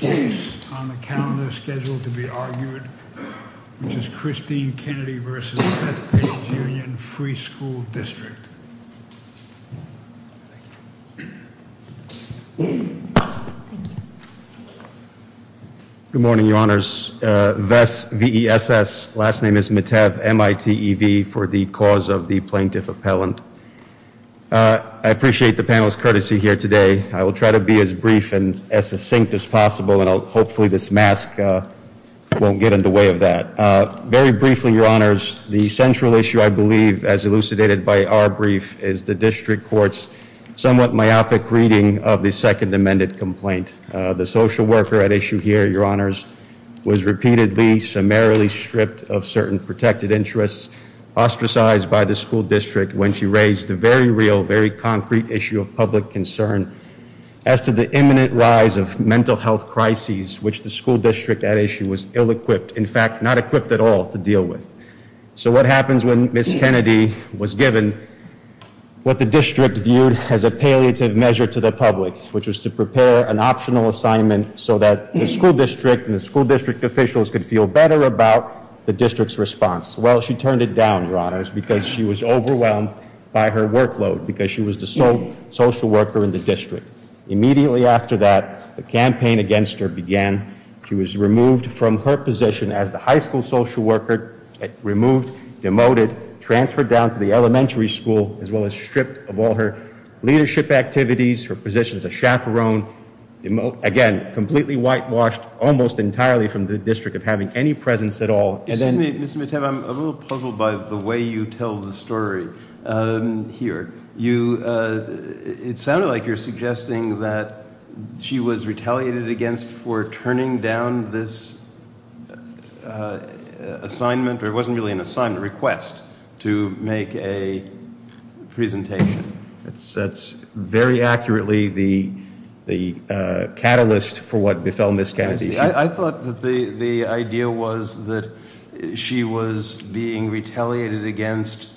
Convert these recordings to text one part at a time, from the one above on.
Good morning, your honors. VESS, V-E-S-S, last name is Mitev, M-I-T-E-V, for the cause of the plaintiff appellant. I appreciate the panel's courtesy here today. I will try to be as brief and as succinct as possible, and hopefully this mask won't get in the way of that. Very briefly, your honors, the central issue, I believe, as elucidated by our brief, is the district court's somewhat myopic reading of the second amended complaint. The social worker at issue here, your honors, was repeatedly, summarily stripped of certain protected interests, ostracized by the school district when she raised the very real, very concrete issue of public concern, as to the imminent rise of mental health crises which the school district at issue was ill-equipped, in fact, not equipped at all to deal with. So what happens when Ms. Kennedy was given what the district viewed as a palliative measure to the public, which was to prepare an optional assignment so that the school district and the school district officials could feel better about the district's response? Well, she turned it down, your honors, because she was overwhelmed by her workload, because she was the sole social worker in the district. Immediately after that, the campaign against her began. She was removed from her position as the high school social worker, removed, demoted, transferred down to the elementary school, as well as stripped of all her leadership activities, her position as a chaperone, again, completely whitewashed, almost entirely from the district of having any presence at all. Mr. Mittem, I'm a little puzzled by the way you tell the story here. It sounded like you're suggesting that she was retaliated against for turning down this assignment, or it wasn't really an assignment, request to make a presentation. That's very accurately the catalyst for what she was being retaliated against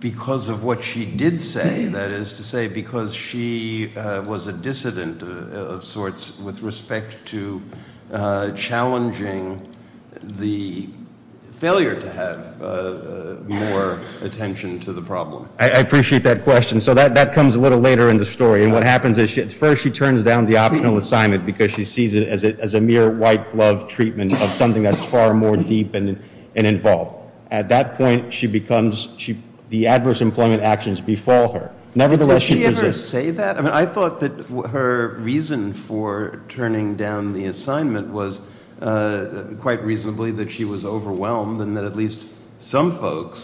because of what she did say. That is to say, because she was a dissident of sorts with respect to challenging the failure to have more attention to the problem. I appreciate that question. So that comes a little later in the story. And what happens is, first, she turns down the optional assignment because she sees it as a mere white glove treatment of something that's far more deep and involved. At that point, the adverse employment actions befall her. Nevertheless, she resists. Did she ever say that? I thought that her reason for turning down the assignment was quite reasonably that she was overwhelmed and that at least some folks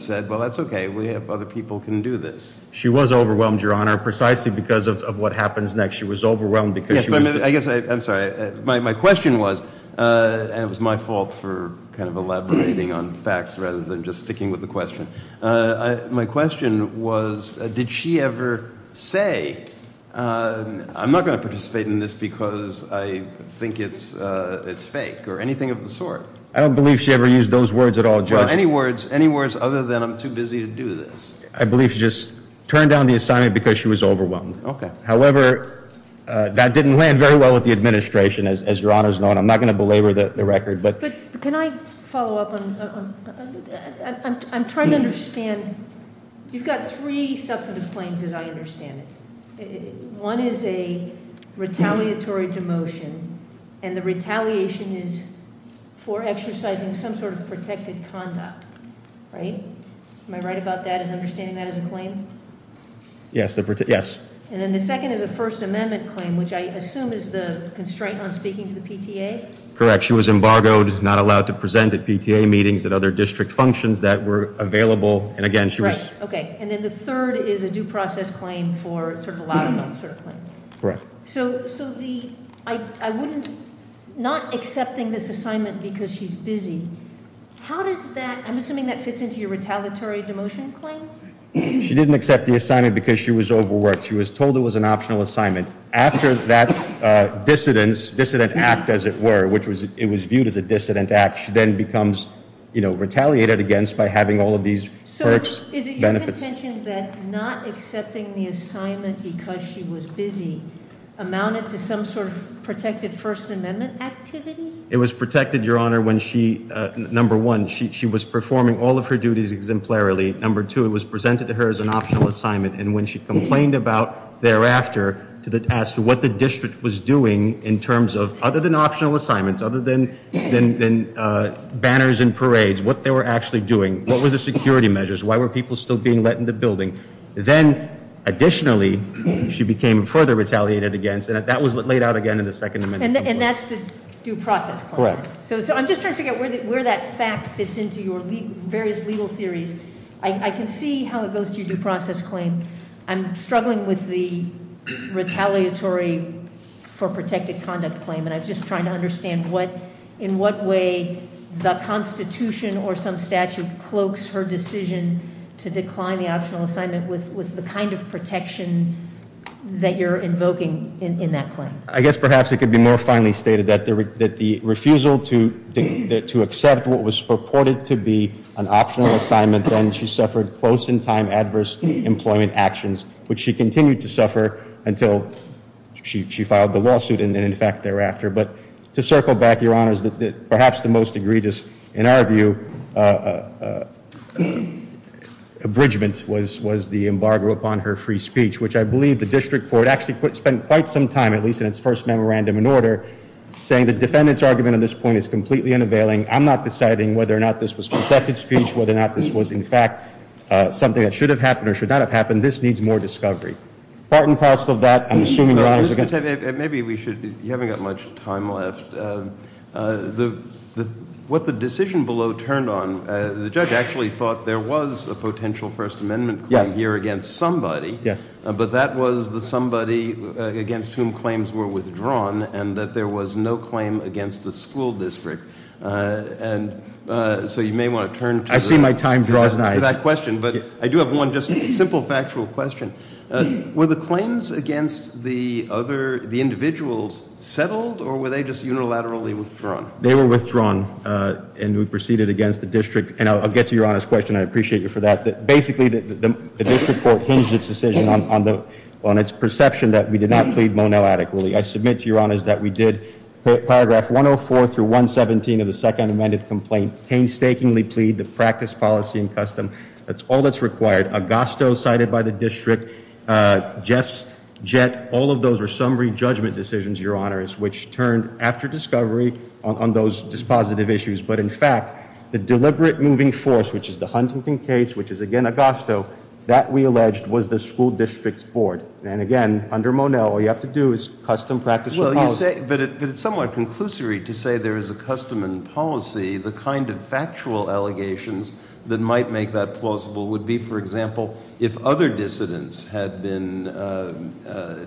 said, well, that's okay. We have other people can do this. She was overwhelmed, Your Honor, precisely because of what happens next. She was overwhelmed because she was I'm sorry. My question was, and it was my fault for kind of elaborating on facts rather than just sticking with the question. My question was, did she ever say, I'm not going to participate in this because I think it's fake or anything of the sort? I don't believe she ever used those words at all, Judge. Any words other than I'm too busy to do this? I believe she just turned down the assignment because she was overwhelmed. However, that didn't land very well with the administration, as Your Honor's known. I'm not going to belabor the record. But can I follow up? I'm trying to understand. You've got three substantive claims as I understand it. One is a retaliatory demotion and the retaliation is for exercising some sort of protected conduct. Right? Am I right about that as understanding that as a claim? Yes. Yes. And then the second is a First Amendment claim, which I assume is the constraint on speaking to the PTA. Correct. She was embargoed, not allowed to present at PTA meetings at other district functions that were available. And again, she was- Right. Okay. And then the third is a due process claim for sort of a loud mouth sort of claim. Correct. So the, I wouldn't, not accepting this assignment because she's busy. How does that, I'm assuming that fits into your retaliatory demotion claim? She didn't accept the assignment because she was overworked. She was told it was an optional assignment. After that dissidence, dissident act as it were, which was, it was viewed as a dissident act, she then becomes, you know, retaliated against by having all of these perks, benefits. So is it your contention that not accepting the assignment because she was busy amounted to some sort of First Amendment activity? It was protected, Your Honor, when she, number one, she was performing all of her duties exemplarily. Number two, it was presented to her as an optional assignment. And when she complained about thereafter to the task, what the district was doing in terms of, other than optional assignments, other than banners and parades, what they were actually doing, what were the security measures? Why were people still being let in the building? Then additionally, she became further retaliated against, and that was laid out again in the Second Amendment. And that's the due process claim? Correct. So I'm just trying to figure out where that fact fits into your various legal theories. I can see how it goes to your due process claim. I'm struggling with the retaliatory for protected conduct claim, and I'm just trying to understand what, in what way the Constitution or some statute cloaks her decision to decline the optional assignment with the kind of protection that you're invoking in that claim. I guess perhaps it could be more finely stated that the refusal to accept what was purported to be an optional assignment, then she suffered close in time adverse employment actions, which she continued to suffer until she filed the lawsuit, and in fact thereafter. But to circle back, Your Honors, perhaps the most egregious, in our view, abridgment was the embargo upon her free speech, which I believe the district court actually spent quite some time, at least in its first memorandum in order, saying the defendant's argument on this point is completely unavailing. I'm not deciding whether or not this was protected speech, whether or not this was in fact something that should have happened or should not have happened. This needs more discovery. Part and parcel of that, I'm assuming, Your Honors. Maybe we should, you haven't got much time left. What the decision below turned on, the judge actually thought there was a potential First Amendment claim here against somebody, but that was the somebody against whom claims were withdrawn, and that there was no claim against the school district. And so you may want to turn to that question, but I do have one just simple factual question. Were the claims against the other, the individuals, settled, or were they just unilaterally withdrawn? They were withdrawn, and we proceeded against the district, and I'll get to Your Honors' question. I appreciate you for that. Basically, the district court hinged its decision on the, on its perception that we did not plead Monell adequately. I submit to Your Honors that we did paragraph 104 through 117 of the Second Amended Complaint painstakingly plead to practice policy and custom. That's all that's required. Agosto cited by the district, Jeff's jet, all of those were summary judgment decisions, Your Honors, which turned after discovery on those dispositive issues. But in fact, the deliberate moving force, which is the Huntington case, which is again Agosto, that we alleged was the school district's board. And again, under Monell, all you have to do is custom practice. Well, you say, but it's somewhat conclusory to say there is a custom and policy, the kind of factual allegations that might make that plausible would be, for example, if other dissidents had been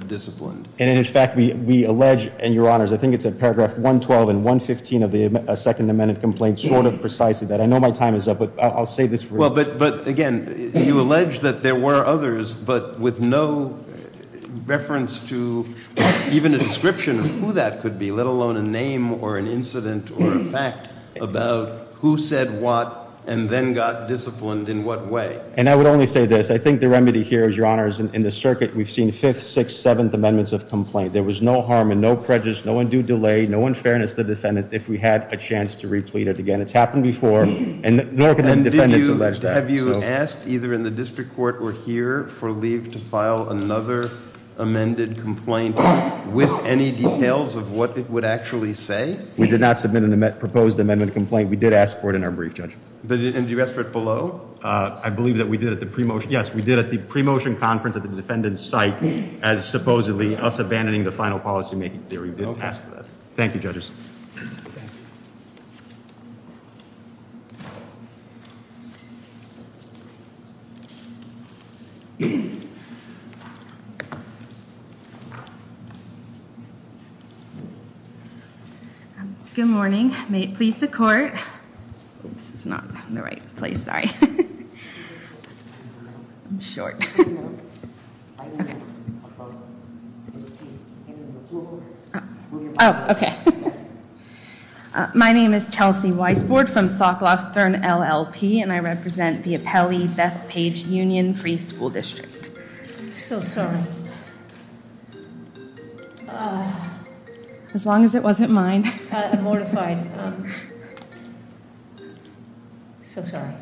disciplined. And in fact, we, we allege, and Your Honors, I think it's in paragraph 112 and 115 of the Second Amended Complaint, sort of precisely that. I know my time is up, but I'll say this. Well, but, but again, you allege that there were others, but with no reference to even a description of who that could be, let alone a name or an incident or a fact about who said what, and then got disciplined in what way. And I would only say this. I think the remedy here is, Your Honors, in the circuit, we've seen fifth, sixth, seventh amendments of complaint. There was no harm and no prejudice, no undue delay, no unfairness to the defendant if we had a chance to replete it again. It's happened before, and nor can the defendants allege that. Have you asked either in the district court or here for leave to file another amended complaint with any details of what it would actually say? We did not submit a proposed amendment complaint. We did ask for it in our brief, Judge. And did you ask for it below? I believe that we did at the pre-motion, yes, we did at the pre-motion conference at the defendant's site as supposedly us abandoning the final policymaking theory. We didn't ask for that. Thank you, Judges. Good morning. May it please the court. This is not the right place, sorry. I'm short. Oh, okay. My name is Chelsea Weisbord from Socklofstern LLP, and I represent the Apelli Bethpage Union Free School District. I'm so sorry. As long as it wasn't mine. I'm mortified. I'm so sorry.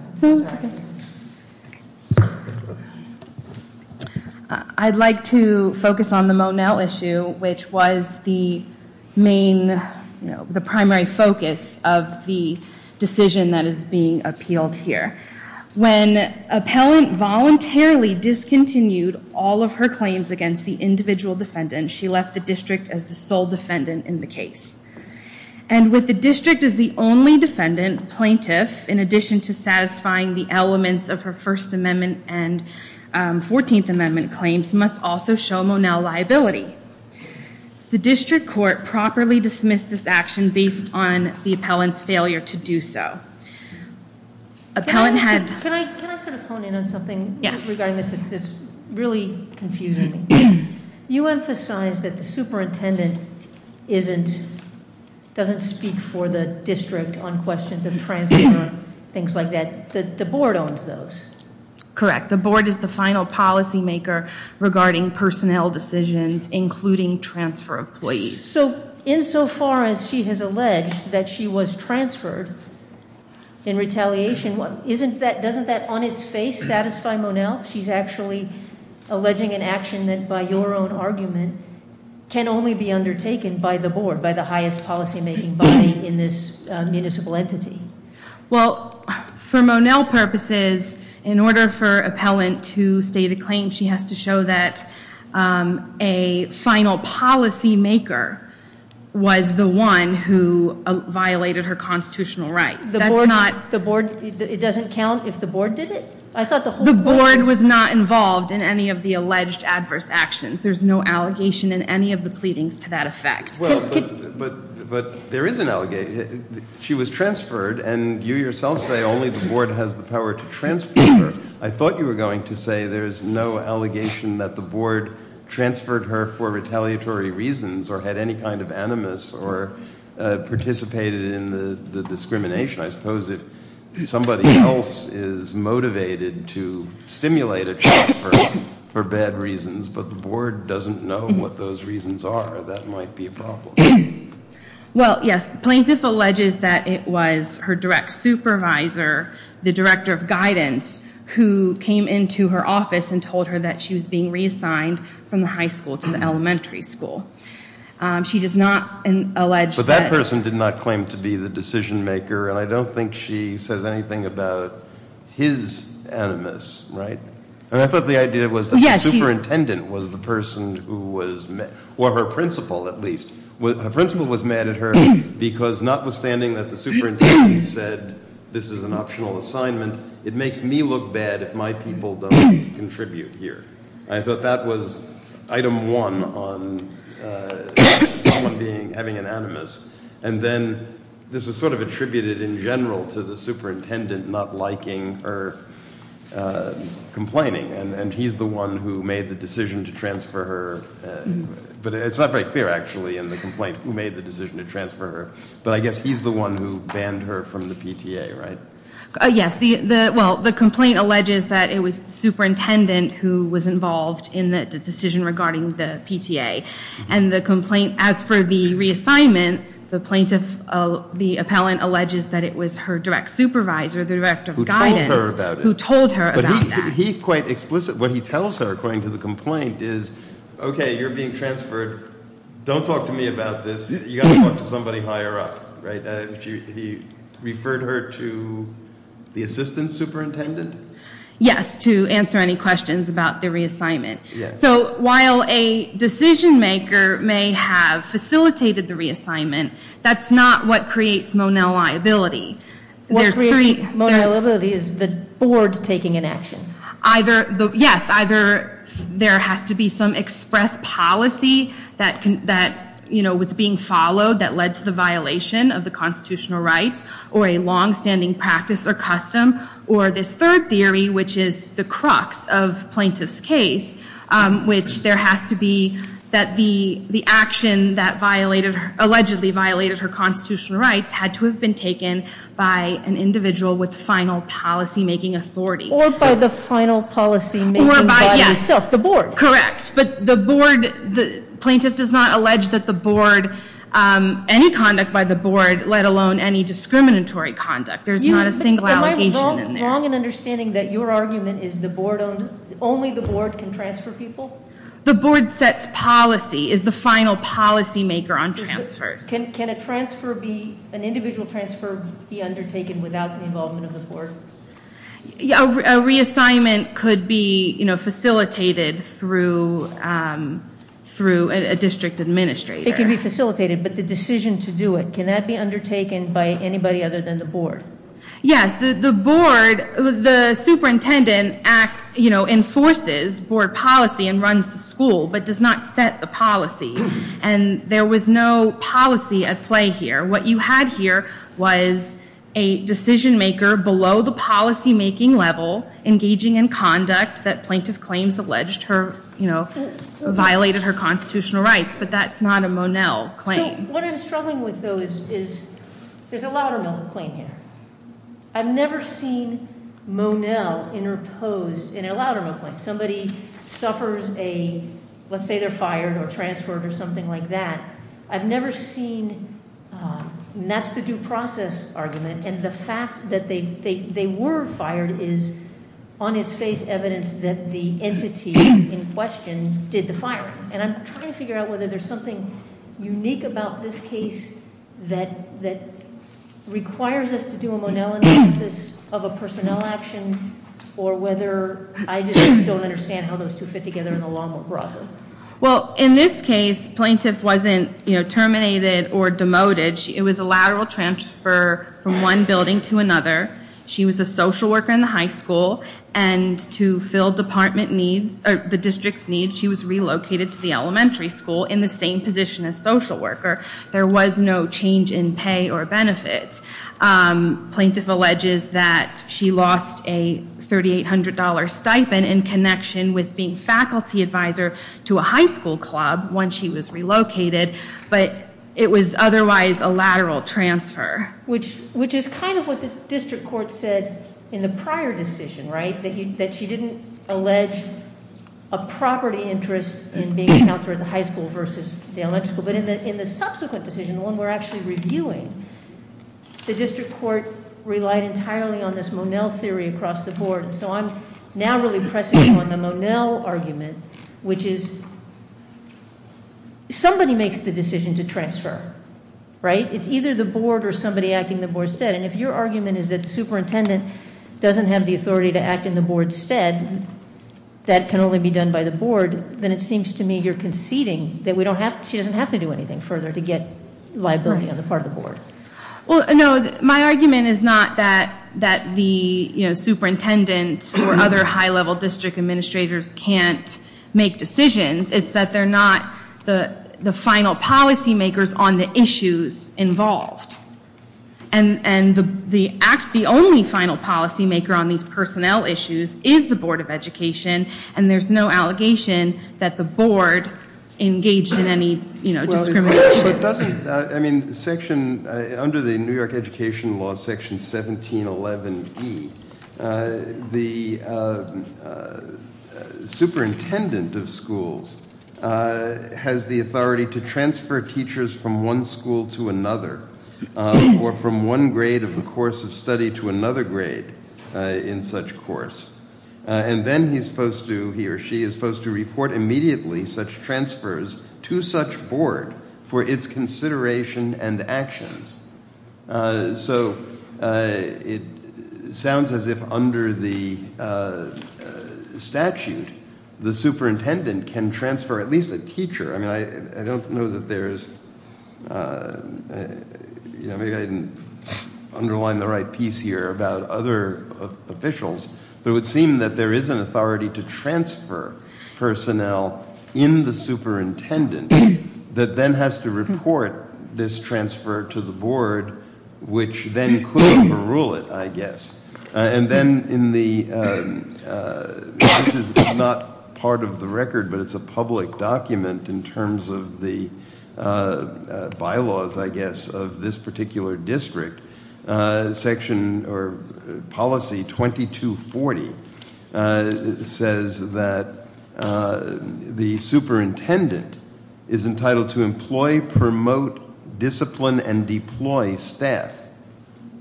I'd like to focus on the Monell issue, which was the main, you know, the primary focus of the decision that is being appealed here. When an appellant voluntarily discontinued all of her claims against the individual defendant, she left the district as the sole defendant in the case. And with the district as the only defendant, plaintiff, in addition to satisfying the elements of her First Amendment and 14th Amendment claims, must also show Monell liability. The district court properly dismissed this action based on the appellant's failure to do so. Appellant had... Can I sort of hone in on something regarding this? It's really confusing me. You emphasize that the superintendent doesn't speak for the district on questions of transfer and things like that. The board owns those. Correct. The board is the final policymaker regarding personnel decisions, including transfer employees. So insofar as she has alleged that she was transferred in retaliation, doesn't that on an action that, by your own argument, can only be undertaken by the board, by the highest policymaking body in this municipal entity? Well, for Monell purposes, in order for appellant to state a claim, she has to show that a final policymaker was the one who violated her constitutional rights. The board, it doesn't count if the board did it? I thought the whole board... There's no allegation in any of the pleadings to that effect. But there is an allegation. She was transferred and you yourself say only the board has the power to transfer her. I thought you were going to say there's no allegation that the board transferred her for retaliatory reasons or had any kind of animus or participated in the discrimination. I suppose if somebody else is motivated to stimulate a transfer for bad reasons, but the board doesn't know what those reasons are, that might be a problem. Well, yes. The plaintiff alleges that it was her direct supervisor, the director of guidance, who came into her office and told her that she was being reassigned from the high school to the elementary school. She does not allege that... I don't think she says anything about his animus. I thought the idea was that the superintendent was the person who was mad, or her principal at least. Her principal was mad at her because notwithstanding that the superintendent said, this is an optional assignment, it makes me look bad if my people don't contribute here. I thought that was item one on someone having an animus. And then this was sort of attributed in general to the superintendent not liking her complaining. And he's the one who made the decision to transfer her. But it's not very clear actually in the complaint who made the decision to transfer her. But I guess he's the one who banned her from the PTA, right? Yes. Well, the complaint alleges that it was the superintendent who was involved in the decision regarding the PTA. And the complaint, as for the reassignment, the plaintiff, the appellant alleges that it was her direct supervisor, the director of guidance, who told her about that. He's quite explicit. What he tells her according to the complaint is, okay, you're being transferred. Don't talk to me about this. You got to talk to somebody higher up, right? He referred her to the assistant superintendent? Yes, to answer any questions about the reassignment. So while a decision maker may have facilitated the reassignment, that's not what creates Monell liability. What creates Monell liability is the board taking an action? Yes. Either there has to be some express policy that was being followed that led to the violation of the constitutional rights or a longstanding practice or custom. Or this third theory, which is the crux of plaintiff's case, which there has to be that the action that allegedly violated her constitutional rights had to have been taken by an individual with final policymaking authority. Or by the final policymaking body itself, the board. Correct. But the board, the plaintiff does not allege that the board, any conduct by the board, let alone any discriminatory conduct. There's not a single allegation in there. Am I wrong in understanding that your argument is the board owned, only the board can transfer people? The board sets policy, is the final policymaker on transfers. Can a transfer be, an individual transfer be undertaken without the involvement of the board? A reassignment could be facilitated through a district administrator. It could be facilitated, but the decision to do it, can that be undertaken by anybody other than the board? Yes, the board, the superintendent act, you know, enforces board policy and runs the school, but does not set the policy. And there was no policy at play here. What you had here was a decision maker below the policymaking level, engaging in conduct that plaintiff claims alleged her, you know, violated her constitutional rights, but that's not a Monell claim. What I'm struggling with though, is, is there's a lot of claim here. I've never seen Monell interposed in a lot of them, like somebody suffers a, let's say they're fired or transferred or something like that. I've never seen, and that's the due process argument. And the fact that they, they, they were fired is on its face evidence that the entity in question did the firing. And I'm trying to figure out whether there's something unique about this case that, that requires us to do a Monell analysis of a personnel action or whether I just don't understand how those two fit together in the law more broadly. Well, in this case, plaintiff wasn't, you know, terminated or demoted. It was a lateral transfer from one building to another. She was a social worker in the high school and to fill department needs or the district's needs, she was relocated to the elementary school in the same position as social worker. There was no change in pay or benefits. Plaintiff alleges that she lost a $3,800 stipend in connection with being faculty advisor to a high school club once she was relocated, but it was otherwise a lateral transfer. Which, which is kind of what the district court said in the prior decision, right? That she didn't allege a property interest in being a counselor at the high school versus the electrical. But in the subsequent decision, the one we're actually reviewing, the district court relied entirely on this Monell theory across the board. And so I'm now really pressing on the Monell argument, which is somebody makes the decision to transfer, right? It's either the board or somebody acting the board said. And if your argument is that superintendent doesn't have the authority to act in the board's stead, that can only be done by the board, then it seems to me you're conceding that we don't have, she doesn't have to do anything further to get liability on the part of the board. Well, no, my argument is not that, that the, you know, superintendent or other high level district administrators can't make decisions. It's that they're not the, the final policy makers on the issues involved. And, and the act, the only final policy maker on these personnel issues is the board of education. And there's no allegation that the board engaged in any, you know, discrimination. But doesn't, I mean, section, under the New York education law, section 1711E, the superintendent of schools has the authority to transfer teachers from one school to another. Or from one grade of the course of study to another grade in such course. And then he's supposed to, he or she is supposed to report immediately such transfers to such board for its consideration and actions. So it sounds as if under the statute, the superintendent can transfer at least a teacher. I mean, I, I don't know that there's, you know, maybe I didn't underline the right piece here about other officials. But it would seem that there is an authority to transfer personnel in the superintendent that then has to report this transfer to the board, which then could overrule it, I guess. And then in the, this is not part of the record, but it's a public document in terms of the bylaws, I guess, of this particular district. Section, or policy 2240 says that the superintendent is entitled to employ, promote, discipline, and deploy staff,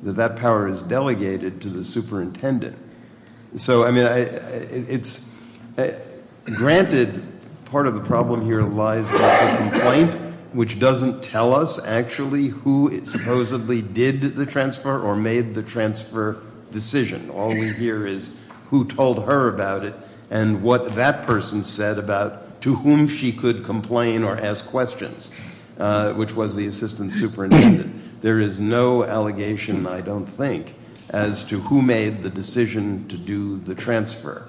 that that power is delegated to the superintendent. So, I mean, it's, granted, part of the problem here lies with the complaint, which doesn't tell us actually who supposedly did the transfer or made the transfer decision. All we hear is who told her about it and what that person said about to whom she could complain or ask questions, which was the assistant superintendent. There is no allegation, I don't think, as to who made the decision to do the transfer.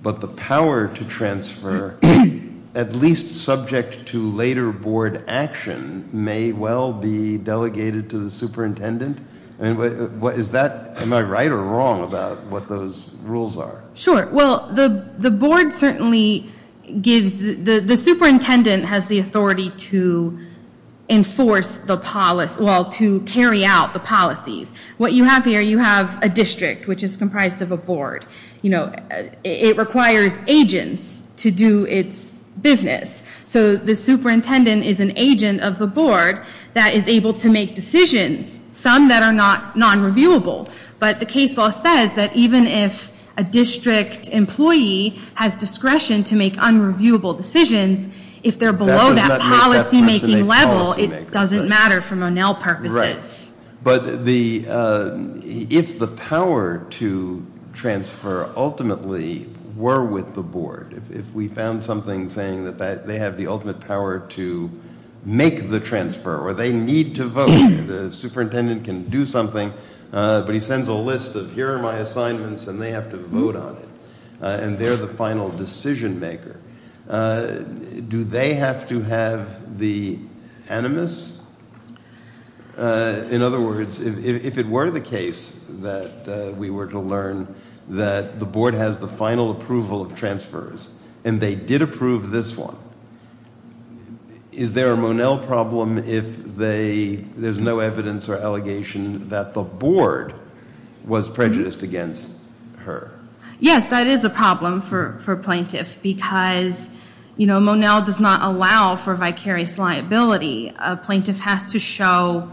But the power to transfer, at least subject to later board action, may well be delegated to the superintendent. I mean, is that, am I right or wrong about what those rules are? Sure, well, the board certainly gives, the superintendent has the authority to enforce the policy, well, to carry out the policies. What you have here, you have a district, which is comprised of a board. You know, it requires agents to do its business. So the superintendent is an agent of the board that is able to make decisions, some that are not non-reviewable. But the case law says that even if a district employee has discretion to make unreviewable decisions, if they're below that policymaking level, it doesn't matter for Monell purposes. Right. But if the power to transfer ultimately were with the board, if we found something saying that they have the ultimate power to make the transfer or they need to vote, the superintendent can do something, but he sends a list of, here are my assignments and they have to vote on it. And they're the final decision maker. Do they have to have the animus? In other words, if it were the case that we were to learn that the board has the final approval of transfers and they did approve this one, is there a Monell problem if there's no evidence or allegation that the board was prejudiced against her? Yes, that is a problem for plaintiff because, you know, Monell does not allow for vicarious liability. A plaintiff has to show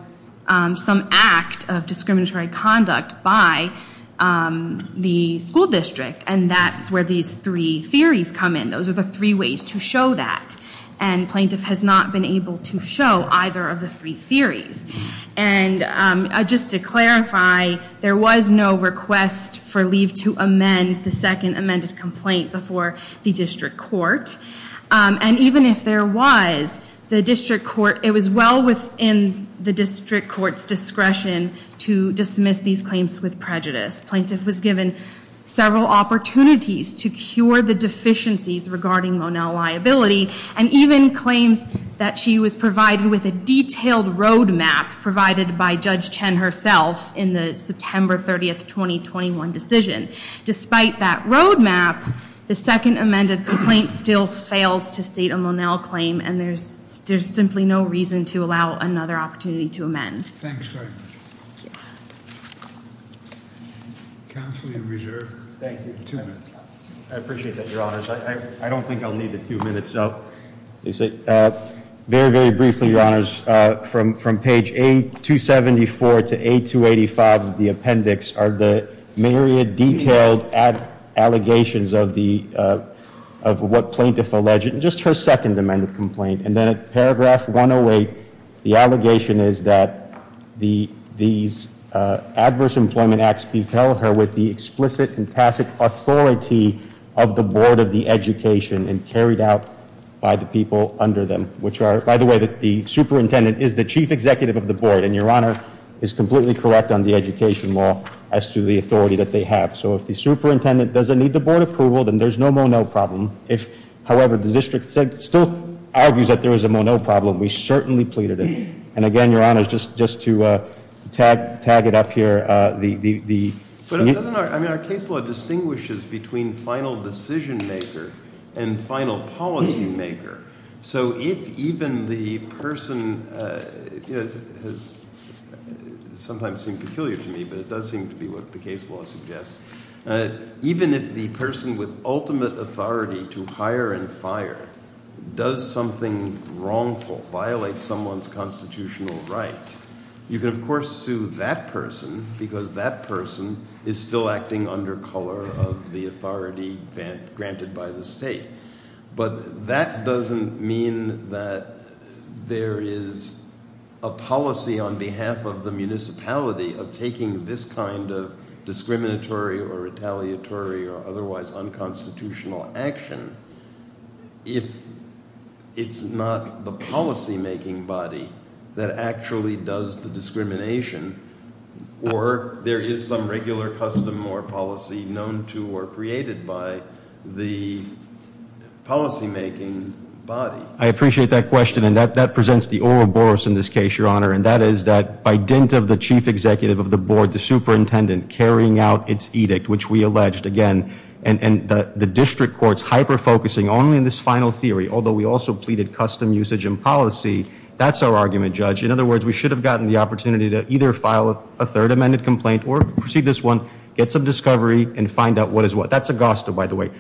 some act of discriminatory conduct by the school district. And that's where these three theories come in. Those are the three ways to show that. And plaintiff has not been able to show either of the three theories. And just to clarify, there was no request for leave to amend the second amended complaint before the district court. And even if there was, the district court, it was well within the district court's discretion to dismiss these claims with prejudice. Plaintiff was given several opportunities to cure the deficiencies regarding Monell liability and even claims that she was provided with a detailed road map provided by Judge Chen herself in the September 30th, 2021 decision. Despite that road map, the second amended complaint still fails to state a Monell claim and there's simply no reason to allow another opportunity to amend. Thanks. Thank you. I appreciate that, Your Honors. I don't think I'll need the two minutes up. Very, very briefly, Your Honors. From page A274 to A285 of the appendix are the myriad detailed allegations of what plaintiff alleged in just her second amended complaint. And then at paragraph 108, the allegation is that these adverse employment acts with the explicit and tacit authority of the board of the education and carried out by the people under them, which are, by the way, that the superintendent is the chief executive of the board. And Your Honor is completely correct on the education law as to the authority that they have. So if the superintendent doesn't need the board approval, then there's no Monell problem. If, however, the district still argues that there is a Monell problem, we certainly pleaded it. And again, Your Honors, just to tag it up here. I mean, our case law distinguishes between final decision maker and final policy maker. So if even the person has sometimes seemed peculiar to me, but it does seem to be what the case law suggests. Even if the person with ultimate authority to hire and fire does something wrongful, violate someone's constitutional rights, you can, of course, sue that person because that person is still acting under color of the authority granted by the state. But that doesn't mean that there is a policy on behalf of the municipality of taking this kind of discriminatory or retaliatory or otherwise unconstitutional action. If it's not the policymaking body that actually does the discrimination or there is some regular custom or policy known to or created by the policymaking body. I appreciate that question. And that presents the oral boros in this case, Your Honor. And that is that by dint of the chief executive of the board, the superintendent carrying out its edict, which we alleged, again, and the district courts hyper-focusing only in this final theory, although we also pleaded custom usage and policy, that's our argument, Judge. In other words, we should have gotten the opportunity to either file a third amended complaint or proceed this one, get some discovery, and find out what is what. That's Augusta, by the way.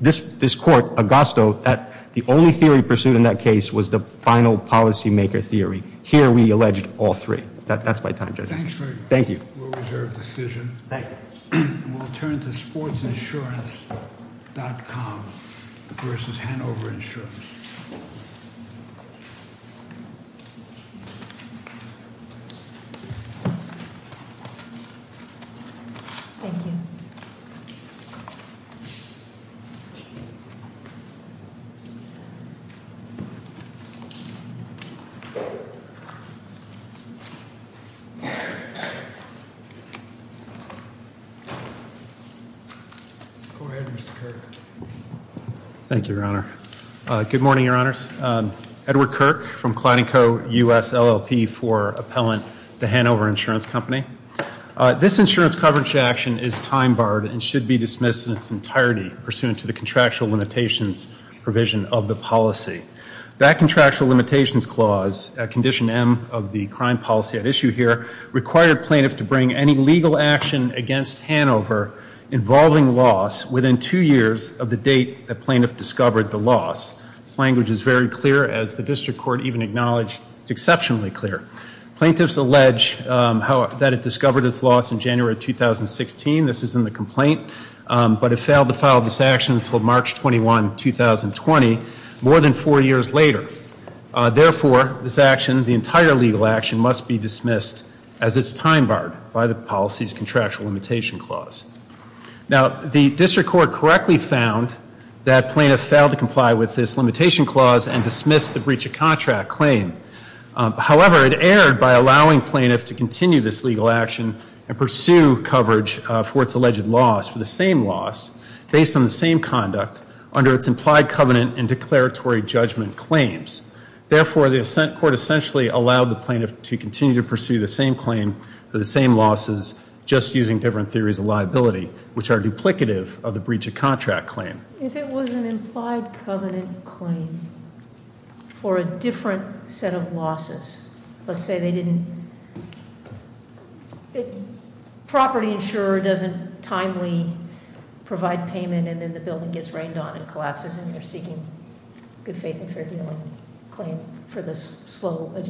This court, Augusta, the only theory pursued in that case was the final policymaker theory. Here, we alleged all three. That's my time, Judge. Thanks very much. Thank you. We'll reserve the decision. And we'll turn to sportsinsurance.com versus Hanover Insurance. Thank you. Go ahead, Mr. Kirk. Thank you, Your Honor. Good morning, Your Honors. Edward Kirk from Cladding Co., U.S. LLP for appellant to Hanover Insurance Company. This insurance coverage action is time-barred and should be dismissed in its entirety, pursuant to the contractual limitations provision of the policy. That contractual limitations clause, condition M of the crime policy at issue here, required plaintiff to bring any legal action against Hanover involving loss within two years of the date the plaintiff discovered the loss. This language is very clear. As the district court even acknowledged, it's exceptionally clear. Plaintiffs allege that it discovered its loss in January 2016. This is in the complaint. But it failed to file this action until March 21, 2020, more than four years later. Therefore, this action, the entire legal action must be dismissed as it's time-barred by the policy's contractual limitation clause. Now, the district court correctly found that plaintiff failed to comply with this limitation clause and dismissed the breach of contract claim. However, it erred by allowing plaintiff to continue this legal action and pursue coverage for its alleged loss for the same loss based on the same conduct under its implied covenant and declaratory judgment claim. Therefore, the assent court essentially allowed the plaintiff to continue to pursue the same claim for the same losses, just using different theories of liability, which are duplicative of the breach of contract claim. If it was an implied covenant claim for a different set of losses, let's say they didn't, property insurer doesn't timely provide payment and then the building gets rained on and collapses and they're seeking good faith and fair dealing claim for this slow adjustment.